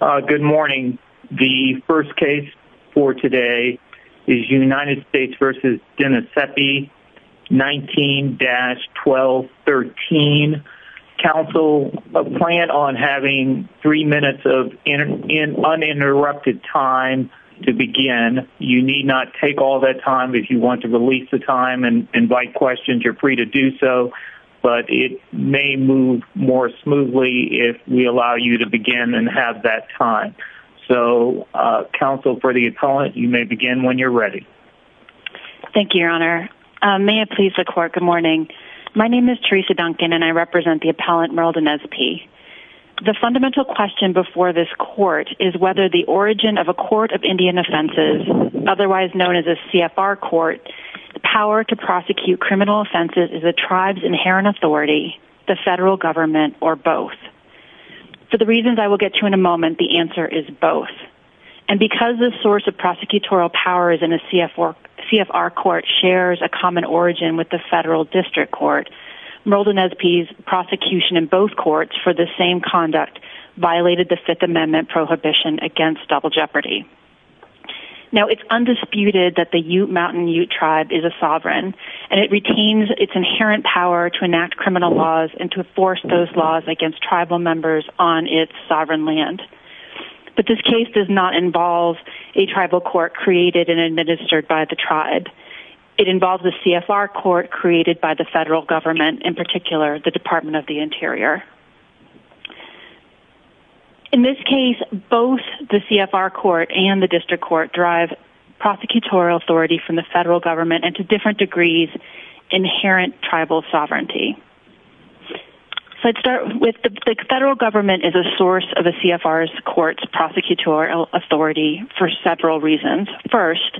Good morning. The first case for today is United States v. Denezpi, 19-1213. Counsel, a plan on having three minutes of uninterrupted time to begin. You need not take all that time. If you want to release the time and invite questions, you're free to do so. But it may move more smoothly if we allow you to begin and have that time. So, counsel for the appellant, you may begin when you're ready. Thank you, your honor. May it please the court, good morning. My name is Teresa Duncan and I represent the appellant Merle Denezpi. The fundamental question before this court is whether the origin of a court of Indian offenses, otherwise known as a CFR court, the power to prosecute criminal offenses is the tribe's inherent authority, the federal government, or both. For the reasons I will get to in a moment, the answer is both. And because the source of prosecutorial powers in a CFR court shares a common origin with the federal district court, Merle Denezpi's prosecution in both courts for the same conduct violated the Fifth Amendment prohibition against double jeopardy. Now, it's undisputed that the Ute Mountain Ute tribe is a sovereign and it retains its inherent power to enact criminal laws and to enforce those laws against tribal members on its sovereign land. But this case does not involve a tribal court created and administered by the tribe. It involves a CFR court created by the federal government, in particular the Department of the Interior. In this case, both the CFR court and the district court drive prosecutorial authority from the federal government and to different degrees inherent tribal sovereignty. So I'd start with the federal government is a source of a CFR court's prosecutorial authority for several reasons. First,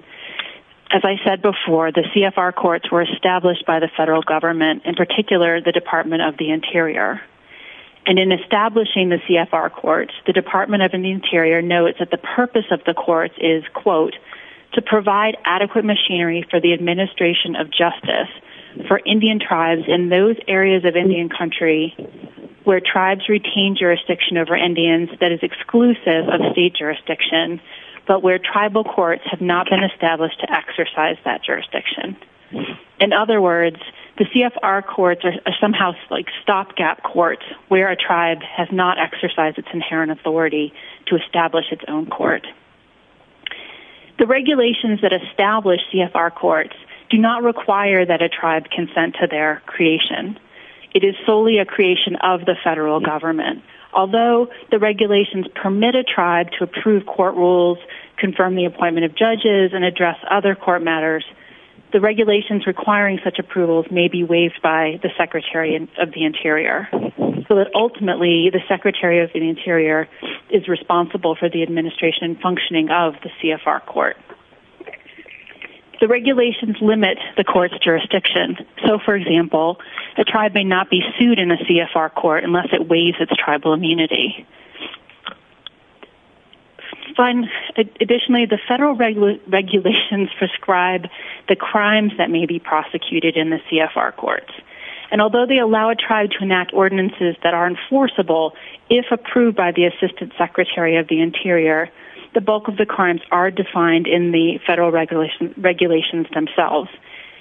as I said before, the CFR courts were established by the federal government, in particular the Department of the Interior. And in establishing the CFR courts, the Department of the Interior notes that the purpose of the courts is, quote, to provide adequate machinery for the administration of justice for Indian tribes in those areas of Indian country where tribes retain jurisdiction over Indians that is exclusive of state jurisdiction, but where tribal courts have not been established to exercise that jurisdiction. In other words, the CFR courts are somehow like stopgap courts where a tribe has not exercised its inherent authority to establish its own court. The regulations that establish CFR courts do not require that a tribe consent to their creation. It is solely a creation of the federal government. Although the regulations permit a tribe to approve court rules, confirm the appointment of judges, and address other court matters, the regulations requiring such approvals may be waived by the Secretary of the Interior, so that ultimately the Secretary of the Interior is responsible for the administration and functioning of the CFR court. The regulations limit the court's jurisdiction. So, for example, a tribe may not be sued in a CFR court unless it waives its tribal immunity. Additionally, the federal regulations prescribe the crimes that may be prosecuted in the CFR courts. And although they allow a tribe to enact ordinances that are enforceable, if approved by the Assistant Secretary of the Interior, the bulk of the crimes are defined in the federal regulations themselves.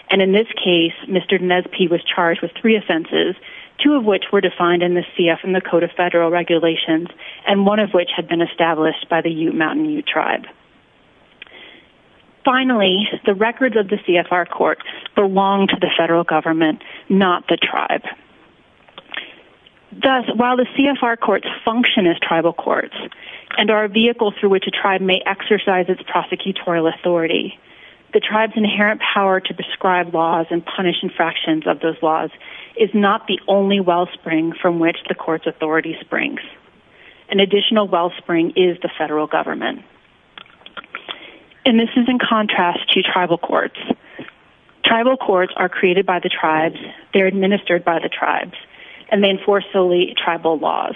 And in this case, Mr. Nespi was charged with three offenses, two of which were defined in the CF and the Code of Federal Regulations, and one of which had been established by the Ute Mountain Ute Tribe. Finally, the records of the CFR court belong to the federal government, not the tribe. Thus, while the CFR courts function as tribal courts, and are a vehicle through which a tribe may exercise its prosecutorial authority, the tribe's inherent power to prescribe laws and punish infractions of those laws is not the only wellspring from which the court's authority springs. An additional wellspring is the federal government. And this is in contrast to tribal courts. Tribal courts are created by the tribes, they're administered by the tribes, and they enforce solely tribal laws.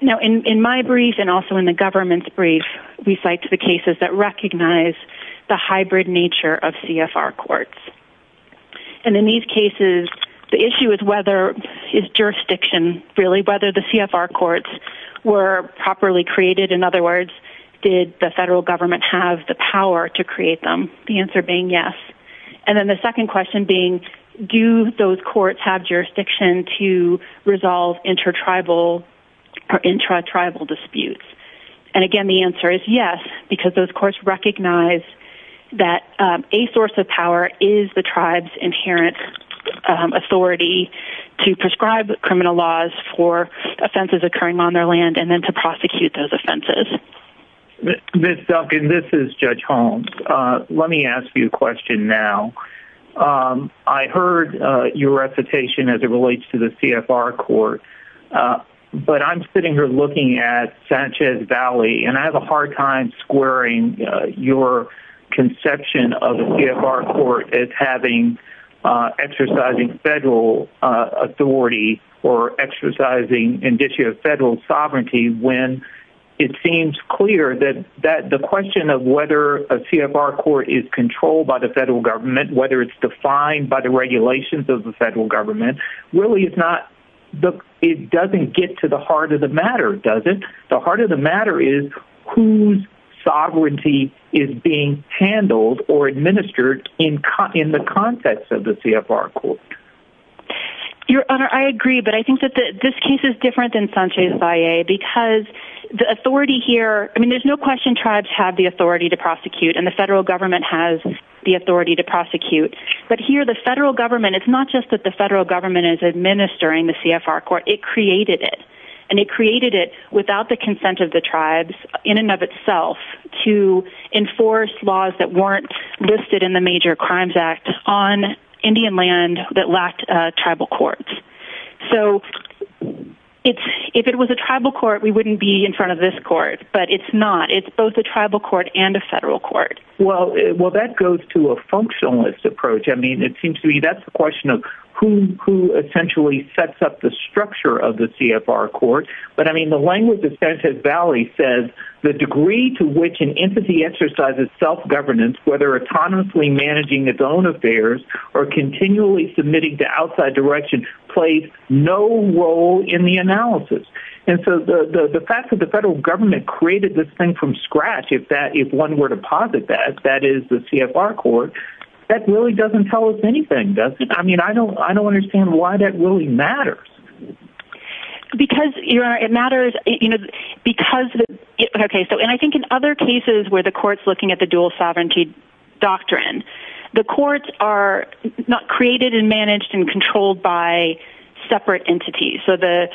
Now, in my brief, and also in the government's brief, we cite the cases that recognize the hybrid nature of CFR courts. And in these cases, the issue is whether the CFR courts were properly created. In other words, did the federal government have the power to create them? The answer being yes. And then the second question being, do those courts have jurisdiction to resolve intertribal or intratribal disputes? And, again, the answer is yes, because those courts recognize that a source of power is the tribe's inherent authority to prescribe criminal laws for offenses occurring on their land and then to prosecute those offenses. Ms. Duncan, this is Judge Holmes. Let me ask you a question now. I heard your recitation as it relates to the CFR court, but I'm sitting here looking at Sanchez Valley, and I have a hard time squaring your conception of a CFR court as having exercising federal authority or exercising an issue of federal sovereignty when it seems clear that the question of whether a CFR court is controlled by the federal government, whether it's defined by the regulations of the federal government, really doesn't get to the heart of the matter, does it? The heart of the matter is whose sovereignty is being handled or administered in the context of the CFR court. Your Honor, I agree, but I think that this case is different than Sanchez Valley because the authority here, I mean, there's no question tribes have the authority to prosecute, and the federal government has the authority to prosecute. But here the federal government, it's not just that the federal government is administering the CFR court. It created it, and it created it without the consent of the tribes in and of itself to enforce laws that weren't listed in the Major Crimes Act on Indian land that lacked tribal courts. So if it was a tribal court, we wouldn't be in front of this court, but it's not. It's both a tribal court and a federal court. Well, that goes to a functionalist approach. I mean, it seems to me that's a question of who essentially sets up the structure of the CFR court. But, I mean, the language of Sanchez Valley says the degree to which an entity exercises self-governance, whether autonomously managing its own affairs or continually submitting to outside direction, plays no role in the analysis. And so the fact that the federal government created this thing from scratch, if one were to posit that, that is the CFR court, that really doesn't tell us anything, does it? I mean, I don't understand why that really matters. Because, Your Honor, it matters because, okay, and I think in other cases where the court's looking at the dual sovereignty doctrine, the courts are created and managed and controlled by separate entities. So the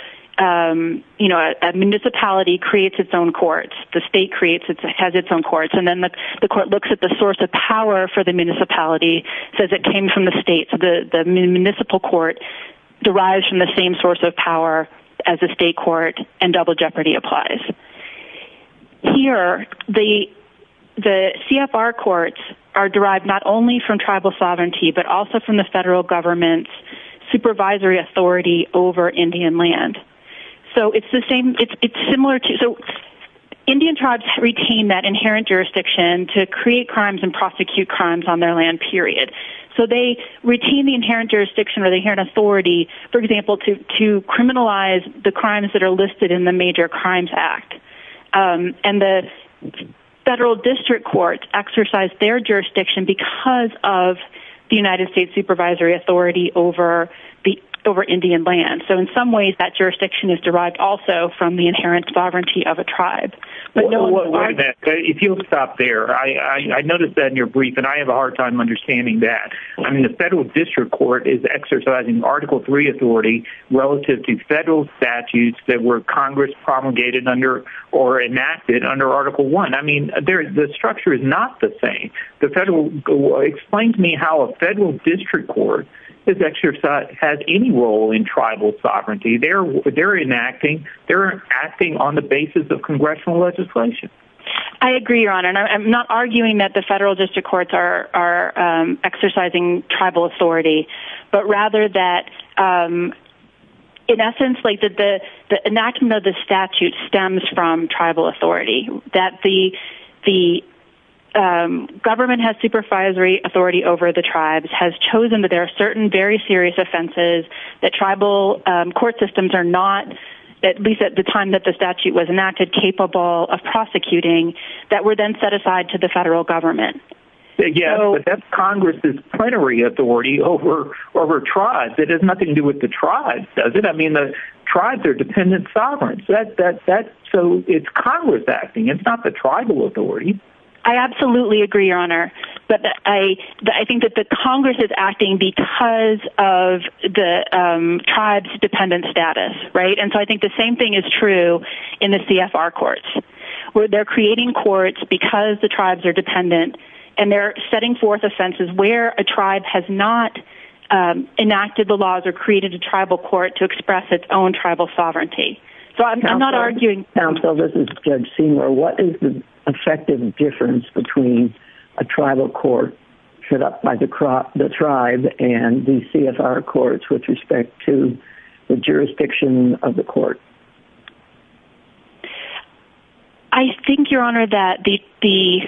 municipality creates its own courts. The state has its own courts. And then the court looks at the source of power for the municipality, says it came from the state. So the municipal court derives from the same source of power as a state court, and double jeopardy applies. Here, the CFR courts are derived not only from tribal sovereignty but also from the federal government's supervisory authority over Indian land. So it's similar to so Indian tribes retain that inherent jurisdiction to create crimes and prosecute crimes on their land, period. So they retain the inherent jurisdiction or the inherent authority, for example, to criminalize the crimes that are listed in the Major Crimes Act. And the federal district courts exercise their jurisdiction because of the United States supervisory authority over Indian land. So in some ways that jurisdiction is derived also from the inherent sovereignty of a tribe. Wait a minute. If you'll stop there, I noticed that in your brief, and I have a hard time understanding that. I mean, the federal district court is exercising Article III authority relative to federal statutes that were Congress promulgated under or enacted under Article I. I mean, the structure is not the same. Explain to me how a federal district court has any role in tribal sovereignty. They're enacting on the basis of congressional legislation. I agree, Your Honor. I'm not arguing that the federal district courts are exercising tribal authority, but rather that in essence the enactment of the statute stems from tribal authority, that the government has supervisory authority over the tribes, has chosen that there are certain very serious offenses that tribal court systems are not, at least at the time that the statute was enacted, capable of prosecuting that were then set aside to the federal government. Yes, but that's Congress's plenary authority over tribes. It has nothing to do with the tribes, does it? I mean, the tribes are dependent sovereigns. So it's Congress acting. It's not the tribal authority. I absolutely agree, Your Honor. But I think that the Congress is acting because of the tribes' dependent status, right? And so I think the same thing is true in the CFR courts, where they're creating courts because the tribes are dependent, and they're setting forth offenses where a tribe has not enacted the laws or created a tribal court to express its own tribal sovereignty. So I'm not arguing— Counsel, this is Judge Seymour. What is the effective difference between a tribal court set up by the tribe and the CFR courts with respect to the jurisdiction of the court? I think, Your Honor, that the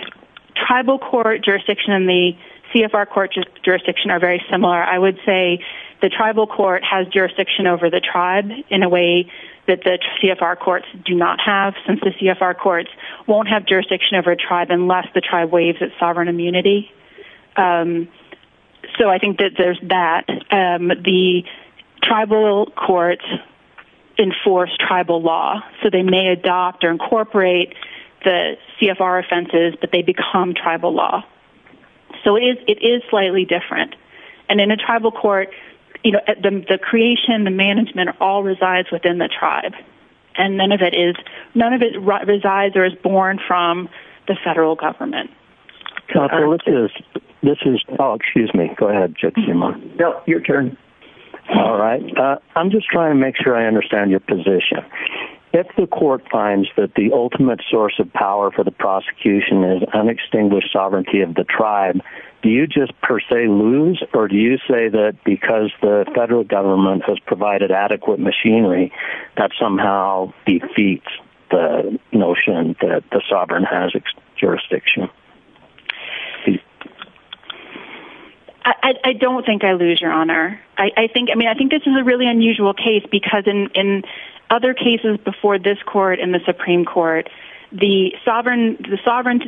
tribal court jurisdiction and the CFR court jurisdiction are very similar. I would say the tribal court has jurisdiction over the tribe in a way that the CFR courts do not have, since the CFR courts won't have jurisdiction over a tribe unless the tribe waives its sovereign immunity. So I think that there's that. The tribal courts enforce tribal law, so they may adopt or incorporate the CFR offenses, but they become tribal law. So it is slightly different. And in a tribal court, the creation, the management all resides within the tribe, and none of it resides or is born from the federal government. Counsel, this is—oh, excuse me. Go ahead, Judge Seymour. No, your turn. All right. I'm just trying to make sure I understand your position. If the court finds that the ultimate source of power for the prosecution is unextinguished sovereignty of the tribe, do you just per se lose, or do you say that because the federal government has provided adequate machinery, that somehow defeats the notion that the sovereign has jurisdiction? I don't think I lose, Your Honor. I mean, I think this is a really unusual case, because in other cases before this court and the Supreme Court, the sovereign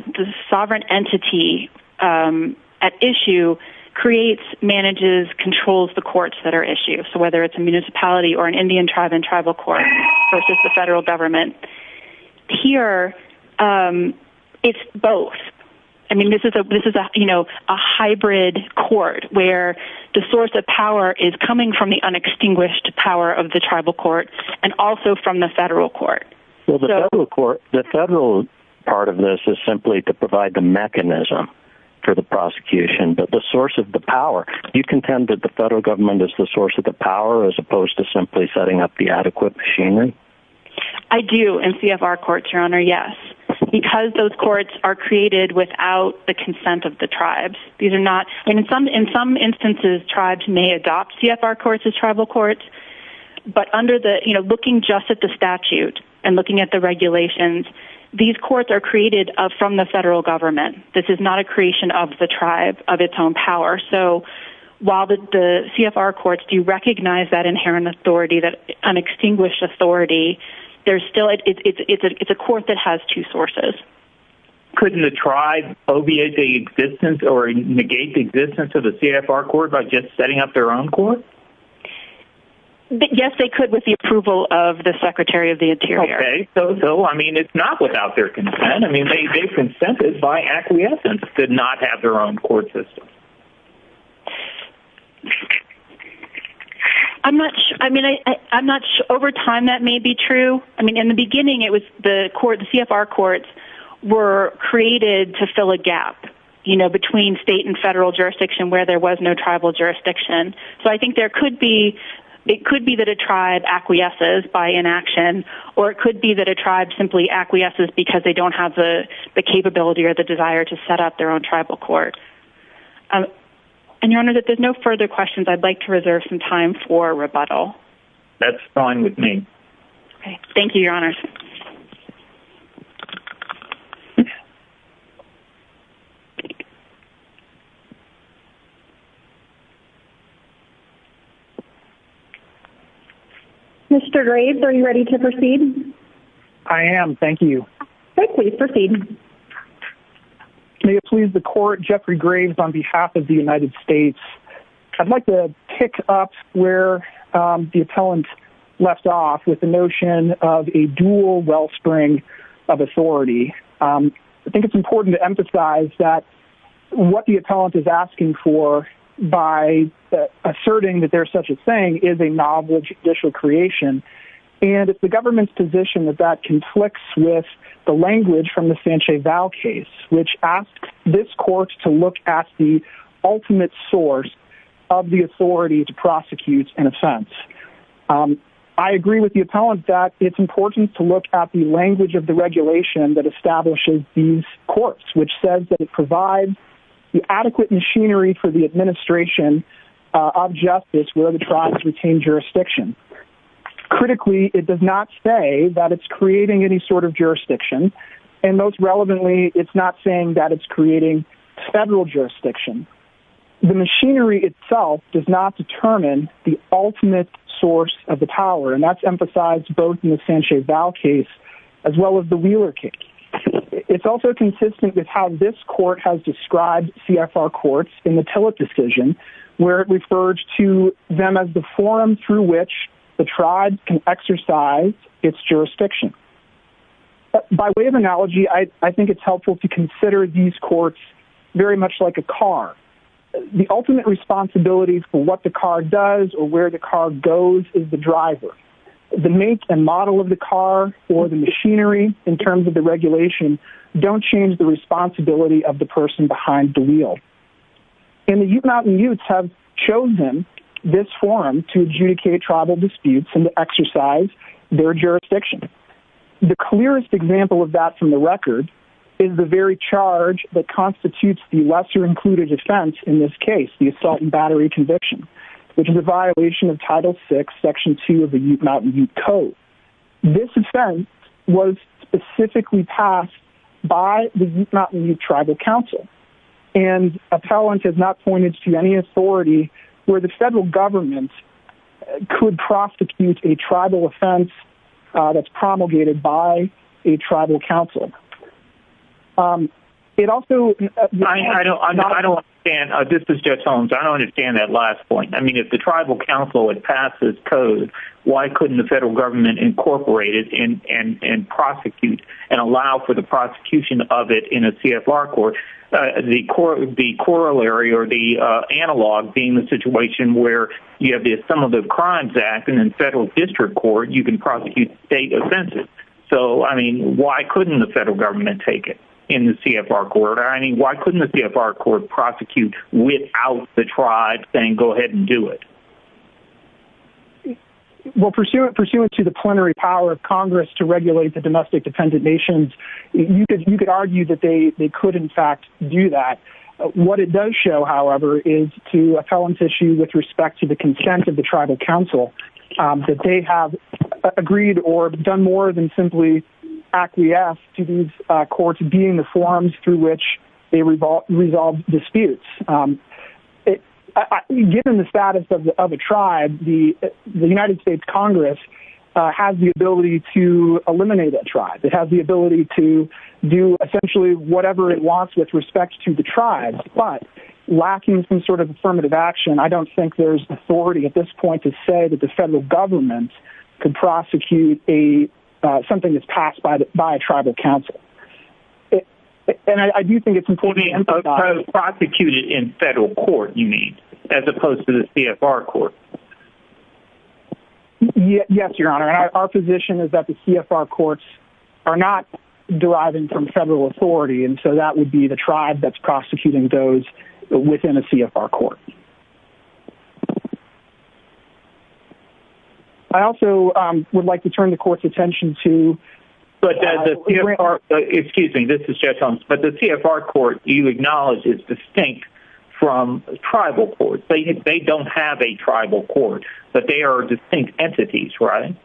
entity at issue creates, manages, controls the courts that are issued. So whether it's a municipality or an Indian tribe in tribal court versus the federal government, here it's both. I mean, this is a hybrid court where the source of power is coming from the unextinguished power of the tribal court and also from the federal court. Well, the federal part of this is simply to provide the mechanism for the prosecution, but the source of the power. Do you contend that the federal government is the source of the power as opposed to simply setting up the adequate machinery? I do in CFR courts, Your Honor, yes, because those courts are created without the consent of the tribes. In some instances, tribes may adopt CFR courts as tribal courts, but looking just at the statute and looking at the regulations, these courts are created from the federal government. This is not a creation of the tribe, of its own power. So while the CFR courts do recognize that inherent authority, that unextinguished authority, it's a court that has two sources. Couldn't the tribe obviate the existence or negate the existence of the CFR court by just setting up their own court? Yes, they could with the approval of the Secretary of the Interior. Okay. So, I mean, it's not without their consent. I mean, they've consented by acquiescence to not have their own court system. I'm not sure. I mean, over time that may be true. I mean, in the beginning it was the CFR courts were created to fill a gap, you know, between state and federal jurisdiction where there was no tribal jurisdiction. So I think it could be that a tribe acquiesces by inaction, or it could be that a tribe simply acquiesces because they don't have the capability or the desire to set up their own tribal court. And, Your Honor, if there's no further questions, I'd like to reserve some time for rebuttal. That's fine with me. Okay. Thank you, Your Honors. Mr. Graves, are you ready to proceed? I am. Thank you. Great. Please proceed. May it please the Court, Jeffrey Graves on behalf of the United States. I'd like to pick up where the appellant left off with the notion of a dual wellspring of authority. I think it's important to emphasize that what the appellant is asking for by asserting that there's such a thing is a novel judicial creation. And it's the government's position that that conflicts with the language from the Sanchez-Val case, which asks this court to look at the ultimate source of the authority to prosecute, in a sense. I agree with the appellant that it's important to look at the language of the regulation that establishes these courts, which says that it provides the adequate machinery for the administration of justice where the tribes retain jurisdiction. Critically, it does not say that it's creating any sort of jurisdiction, and most relevantly, it's not saying that it's creating federal jurisdiction. The machinery itself does not determine the ultimate source of the power, and that's emphasized both in the Sanchez-Val case as well as the Wheeler case. It's also consistent with how this court has described CFR courts in the Tillett decision, where it refers to them as the forum through which the tribes can exercise its jurisdiction. By way of analogy, I think it's helpful to consider these courts very much like a car. The ultimate responsibility for what the car does or where the car goes is the driver. The make and model of the car or the machinery, in terms of the regulation, don't change the responsibility of the person behind the wheel. And the Ute Mountain Utes have chosen this forum to adjudicate tribal disputes and to exercise their jurisdiction. The clearest example of that from the record is the very charge that constitutes the lesser-included offense in this case, the assault and battery conviction, which is a violation of Title VI, Section 2 of the Ute Mountain Ute Code. This offense was specifically passed by the Ute Mountain Ute Tribal Council, and appellant has not pointed to any authority where the federal government could prosecute a tribal offense that's promulgated by a tribal council. I don't understand. This is Jeff Tones. I don't understand that last point. I mean, if the tribal council had passed this code, why couldn't the federal government incorporate it and prosecute and allow for the prosecution of it in a CFR court? The corollary or the analog being the situation where you have the Assumptive Crimes Act, and in federal district court, you can prosecute state offenses. So, I mean, why couldn't the federal government take it in the CFR court? I mean, why couldn't the CFR court prosecute without the tribe saying, go ahead and do it? Well, pursuant to the plenary power of Congress to regulate the domestic dependent nations, you could argue that they could, in fact, do that. What it does show, however, is to appellant issue with respect to the consent of the tribal council that they have agreed or done more than simply acquiesce to these courts being the forums through which they resolve disputes. Given the status of a tribe, the United States Congress has the ability to eliminate that tribe. It has the ability to do essentially whatever it wants with respect to the tribe, but lacking some sort of affirmative action, I don't think there's authority at this point to say that the federal government can prosecute something that's passed by a tribal council. And I do think it's important... Prosecute it in federal court, you mean, as opposed to the CFR court. Yes, Your Honor. Our position is that the CFR courts are not deriving from federal authority, and so that would be the tribe that's prosecuting those within a CFR court. I also would like to turn the court's attention to... Excuse me, this is Jeff Holmes. But the CFR court, you acknowledge, is distinct from tribal courts. They don't have a tribal court, but they are distinct entities, right?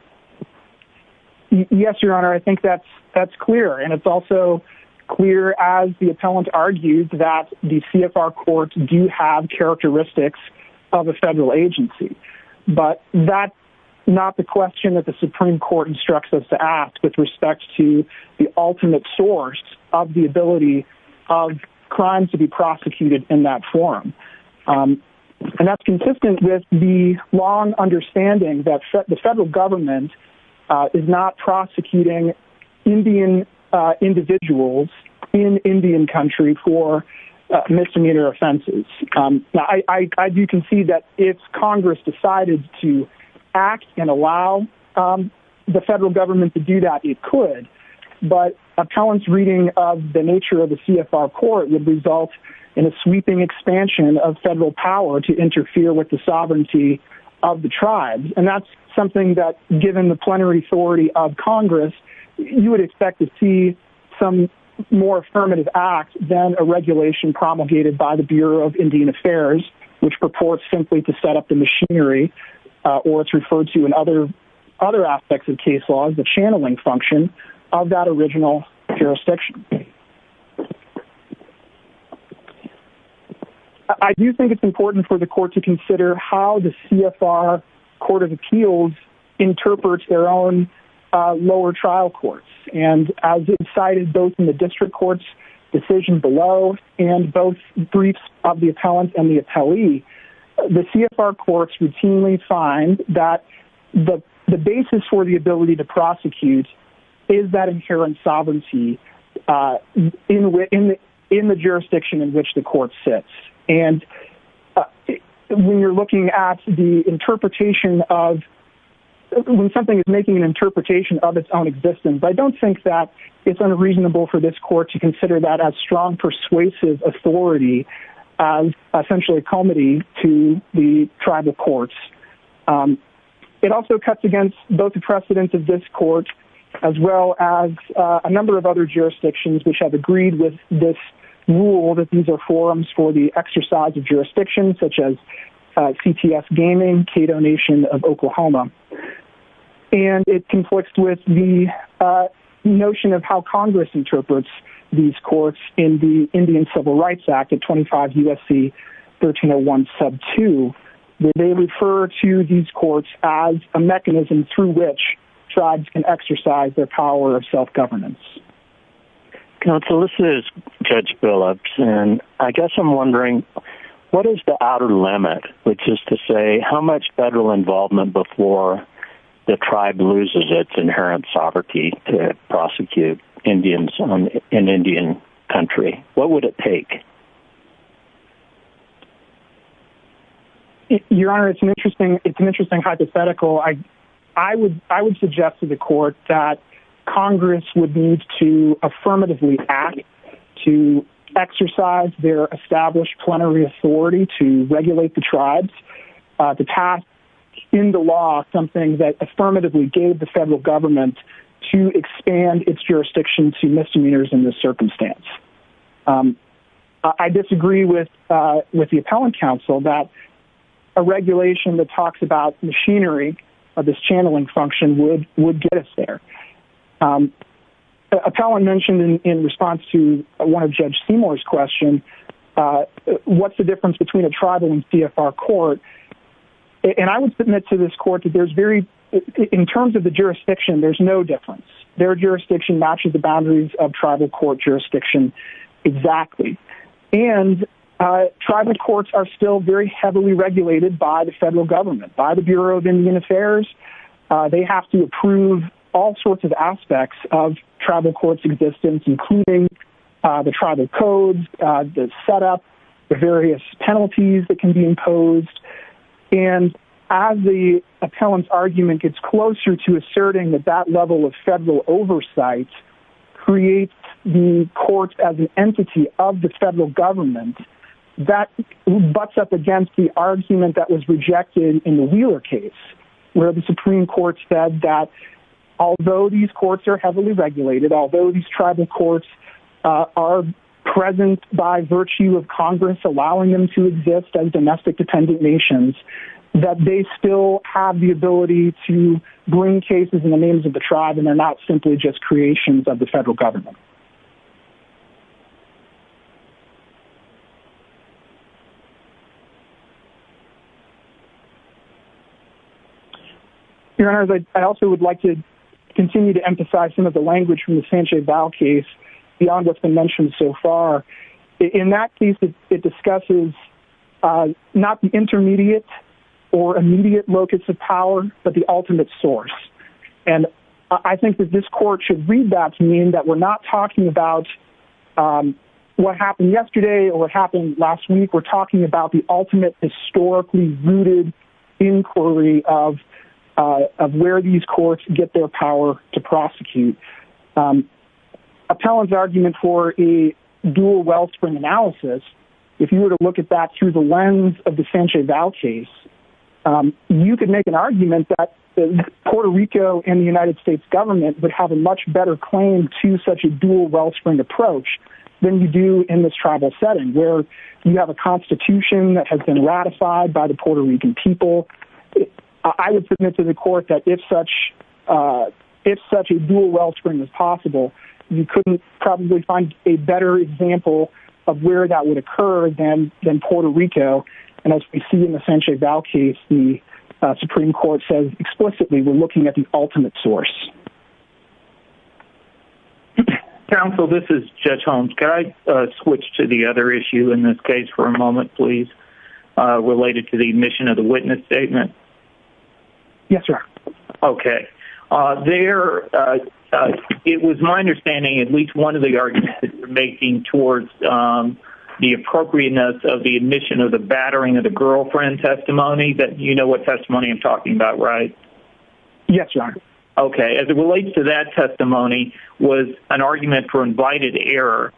Yes, Your Honor, I think that's clear. And it's also clear, as the appellant argued, that the CFR courts do have characteristics of a federal agency. But that's not the question that the Supreme Court instructs us to ask with respect to the ultimate source of the ability of crimes to be prosecuted in that forum. And that's consistent with the long understanding that the federal government is not prosecuting Indian individuals in Indian country for misdemeanor offenses. Now, I do concede that if Congress decided to act and allow the federal government to do that, it could. But appellant's reading of the nature of the CFR court would result in a sweeping expansion of federal power to interfere with the sovereignty of the tribes. And that's something that, given the plenary authority of Congress, you would expect to see some more affirmative act than a regulation promulgated by the Bureau of Indian Affairs, which purports simply to set up the machinery, or it's referred to in other aspects of case law, as the channeling function of that original jurisdiction. I do think it's important for the court to consider how the CFR court of appeals interprets their own lower trial courts. And as it's cited both in the district court's decision below and both briefs of the appellant and the appellee, the CFR courts routinely find that the basis for the ability to prosecute is that inherent sovereignty in the jurisdiction in which the court sits. And when you're looking at the interpretation of, when something is making an interpretation of its own existence, I don't think that it's unreasonable for this court to consider that as strong persuasive authority, as essentially a comedy to the tribal courts. It also cuts against both the precedence of this court as well as a number of other jurisdictions which have agreed with this rule that these are forums for the exercise of jurisdiction, such as CTS Gaming, Cato Nation of Oklahoma. And it conflicts with the notion of how Congress interprets these courts in the Indian Civil Rights Act of 25 U.S.C. 1301 sub 2, where they refer to these courts as a mechanism through which tribes can exercise their power of self-governance. Counsel, this is Judge Billups, and I guess I'm wondering, what is the outer limit, which is to say how much federal involvement before the tribe loses its inherent sovereignty to prosecute Indians in Indian country? What would it take? Your Honor, it's an interesting hypothetical. I would suggest to the court that Congress would need to affirmatively act to exercise their established plenary authority to regulate the tribes to pass in the law something that affirmatively gave the federal government to expand its jurisdiction to misdemeanors in this circumstance. I disagree with the appellant counsel that a regulation that talks about machinery, this channeling function, would get us there. Appellant mentioned in response to one of Judge Seymour's questions, what's the difference between a tribal and CFR court? And I would submit to this court that in terms of the jurisdiction, there's no difference. Their jurisdiction matches the boundaries of tribal court jurisdiction exactly. And tribal courts are still very heavily regulated by the federal government, by the Bureau of Indian Affairs. They have to approve all sorts of aspects of tribal courts' existence, including the tribal codes, the setup, the various penalties that can be imposed. And as the appellant's argument gets closer to asserting that that level of federal oversight creates the courts as an entity of the federal government, that butts up against the argument that was rejected in the Wheeler case, where the Supreme Court said that although these courts are heavily regulated, although these tribal courts are present by virtue of Congress allowing them to exist as domestic-dependent nations, that they still have the ability to bring cases in the names of the tribe and they're not simply just creations of the federal government. Your Honors, I also would like to continue to emphasize some of the language from the Sanjay Val case beyond what's been mentioned so far. In that case, it discusses not the intermediate or immediate locus of power, but the ultimate source. And I think that this court should read that to mean that we're not talking about what happened yesterday or what happened last week. We're talking about the ultimate historically rooted inquiry of where these courts get their power to prosecute. Appellant's argument for a dual wellspring analysis, if you were to look at that through the lens of the Sanjay Val case, you could make an argument that Puerto Rico and the United States government would have a much better claim to such a dual wellspring approach than you do in this tribal setting, where you have a constitution that has been ratified by the Puerto Rican people. I would submit to the court that if such a dual wellspring was possible, you couldn't probably find a better example of where that would occur than Puerto Rico. And as we see in the Sanjay Val case, the Supreme Court says explicitly, we're looking at the ultimate source. Counsel, this is Judge Holmes. Could I switch to the other issue in this case for a moment, please, related to the admission of the witness statement? Yes, Your Honor. Okay. It was my understanding at least one of the arguments that you're making towards the appropriateness of the admission of the battering of the girlfriend testimony, that you know what testimony I'm talking about, right? Yes, Your Honor. Okay. As it relates to that testimony, was an argument for invited error.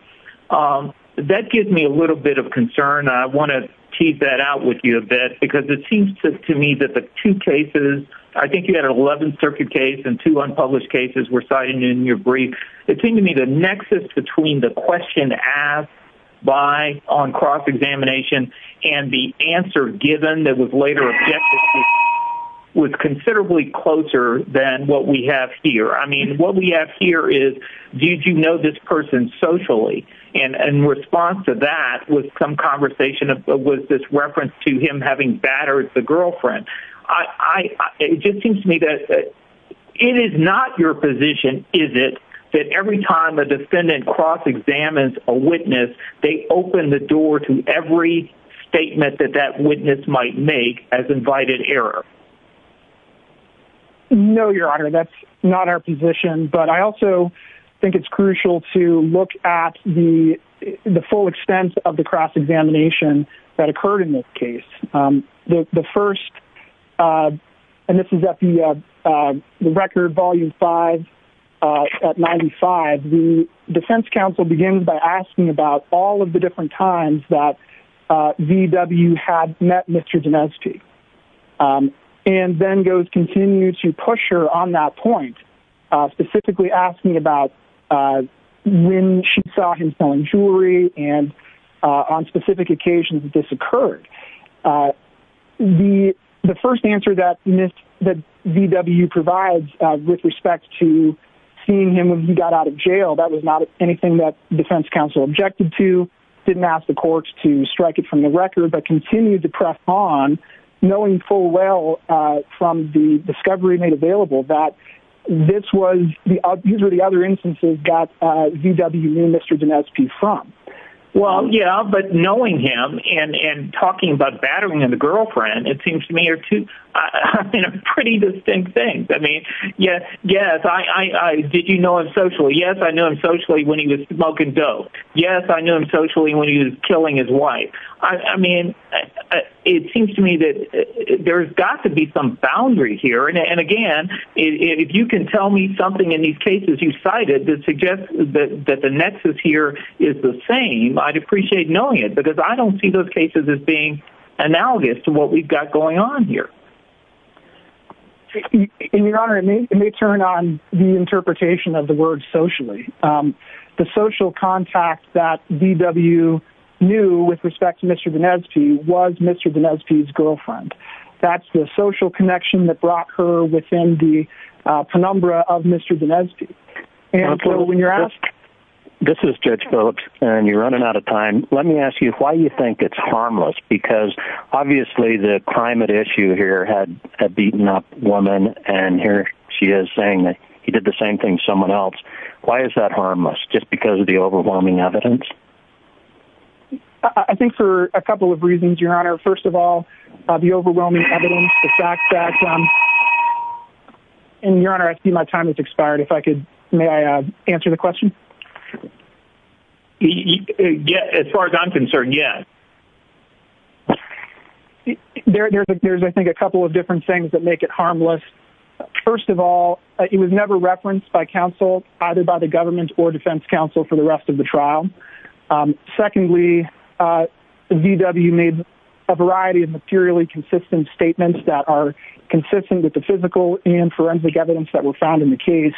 That gives me a little bit of concern. I want to tease that out with you a bit, because it seems to me that the two cases, I think you had an 11th Circuit case and two unpublished cases were cited in your brief. It seemed to me the nexus between the question asked by on cross-examination and the answer given that was later objected to was considerably closer than what we have here. I mean, what we have here is, did you know this person socially? And in response to that was some conversation with this reference to him having battered the girlfriend. It just seems to me that it is not your position, is it, that every time a defendant cross-examines a witness, they open the door to every statement that that witness might make as invited error? No, Your Honor. That's not our position. But I also think it's crucial to look at the full extent of the cross-examination that occurred in this case. The first, and this is at the record, Volume 5, at 95, the defense counsel begins by asking about all of the different times that VW had met Mr. Dineshji and then continues to push her on that point, specifically asking about when she saw him selling jewelry and on specific occasions that this occurred. The first answer that VW provides with respect to seeing him when he got out of jail, that was not anything that defense counsel objected to, didn't ask the courts to strike it from the record, but continued to press on knowing full well from the discovery made available that these were the other instances that VW knew Mr. Dineshji from. Well, yeah, but knowing him and talking about battering the girlfriend, it seems to me are two pretty distinct things. I mean, yes, did you know him socially? Yes, I knew him socially when he was smoking dope. Yes, I knew him socially when he was killing his wife. I mean, it seems to me that there's got to be some boundary here, and again, if you can tell me something in these cases you cited that suggests that the nexus here is the same, I'd appreciate knowing it because I don't see those cases as being analogous to what we've got going on here. Your Honor, let me turn on the interpretation of the word socially. The social contact that VW knew with respect to Mr. Dineshji was Mr. Dineshji's girlfriend. That's the social connection that brought her within the penumbra of Mr. Dineshji. This is Judge Phillips, and you're running out of time. Let me ask you why you think it's harmless because obviously the climate issue here had beaten up a woman, and here she is saying that he did the same thing to someone else. Why is that harmless, just because of the overwhelming evidence? I think for a couple of reasons, Your Honor. First of all, the overwhelming evidence, the fact that... And Your Honor, I see my time has expired. May I answer the question? As far as I'm concerned, yes. There's, I think, a couple of different things that make it harmless. First of all, it was never referenced by counsel, either by the government or defense counsel, for the rest of the trial. Secondly, VW made a variety of materially consistent statements that are consistent with the physical and forensic evidence that were found in the case.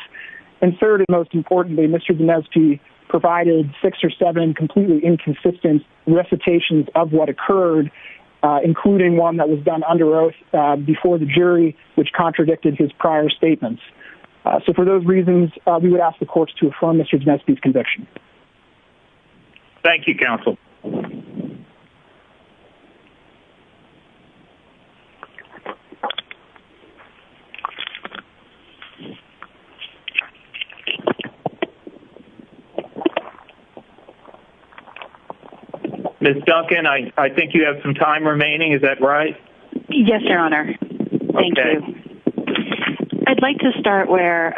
And third, and most importantly, Mr. Dineshji provided six or seven completely inconsistent recitations of what occurred, including one that was done under oath before the jury, which contradicted his prior statements. So for those reasons, we would ask the courts to affirm Mr. Dineshji's conviction. Thank you, counsel. Thank you. Ms. Duncan, I think you have some time remaining, is that right? Yes, Your Honor. Okay. Thank you. I'd like to start where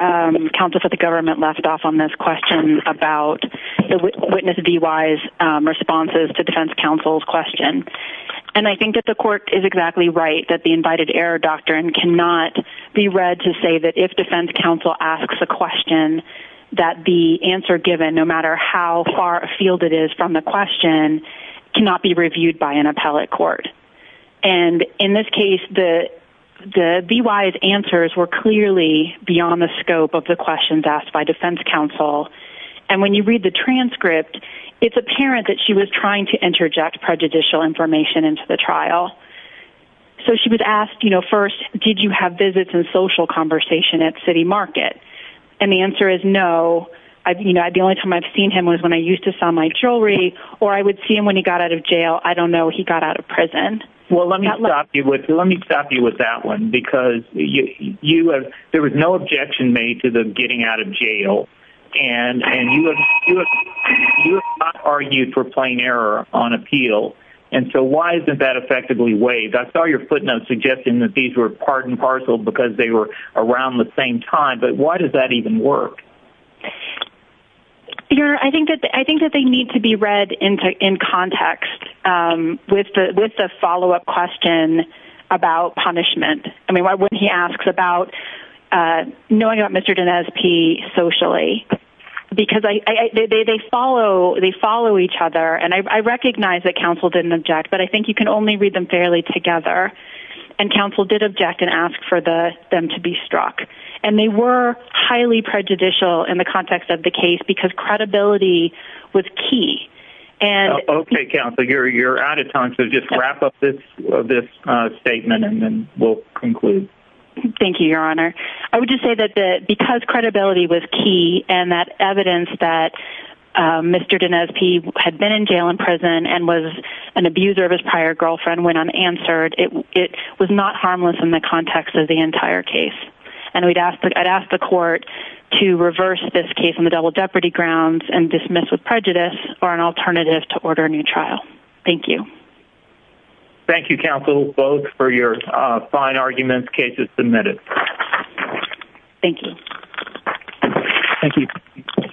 counsel for the government left off on this question about the witness DY's responses to defense counsel's question. And I think that the court is exactly right that the invited error doctrine cannot be read to say that if defense counsel asks a question, that the answer given, no matter how far afield it is from the question, cannot be reviewed by an appellate court. And in this case, the DY's answers were clearly beyond the scope of the questions asked by defense counsel. And when you read the transcript, it's apparent that she was trying to interject prejudicial information into the trial. So she was asked, you know, first, did you have visits and social conversation at City Market? And the answer is no. You know, the only time I've seen him was when I used to sell my jewelry, or I would see him when he got out of jail. I don't know he got out of prison. Well, let me stop you with that one, because there was no objection made to them getting out of jail. And you have not argued for plain error on appeal. And so why isn't that effectively waived? I saw your footnotes suggesting that these were part and parcel because they were around the same time. But why does that even work? I think that they need to be read in context with the follow-up question about punishment. I mean, when he asks about knowing about Mr. Danez P. socially, because they follow each other. And I recognize that counsel didn't object, but I think you can only read them fairly together. And counsel did object and ask for them to be struck. And they were highly prejudicial in the context of the case because credibility was key. Okay, counsel, you're out of time, so just wrap up this statement and then we'll conclude. Thank you, Your Honor. I would just say that because credibility was key and that evidence that Mr. Danez P. had been in jail and prison and was an abuser of his prior girlfriend when unanswered, it was not harmless in the context of the entire case. And I'd ask the court to reverse this case on the double jeopardy grounds and dismiss with prejudice or an alternative to order a new trial. Thank you. Thank you, counsel, both, for your fine arguments. Case is submitted. Thank you. Thank you.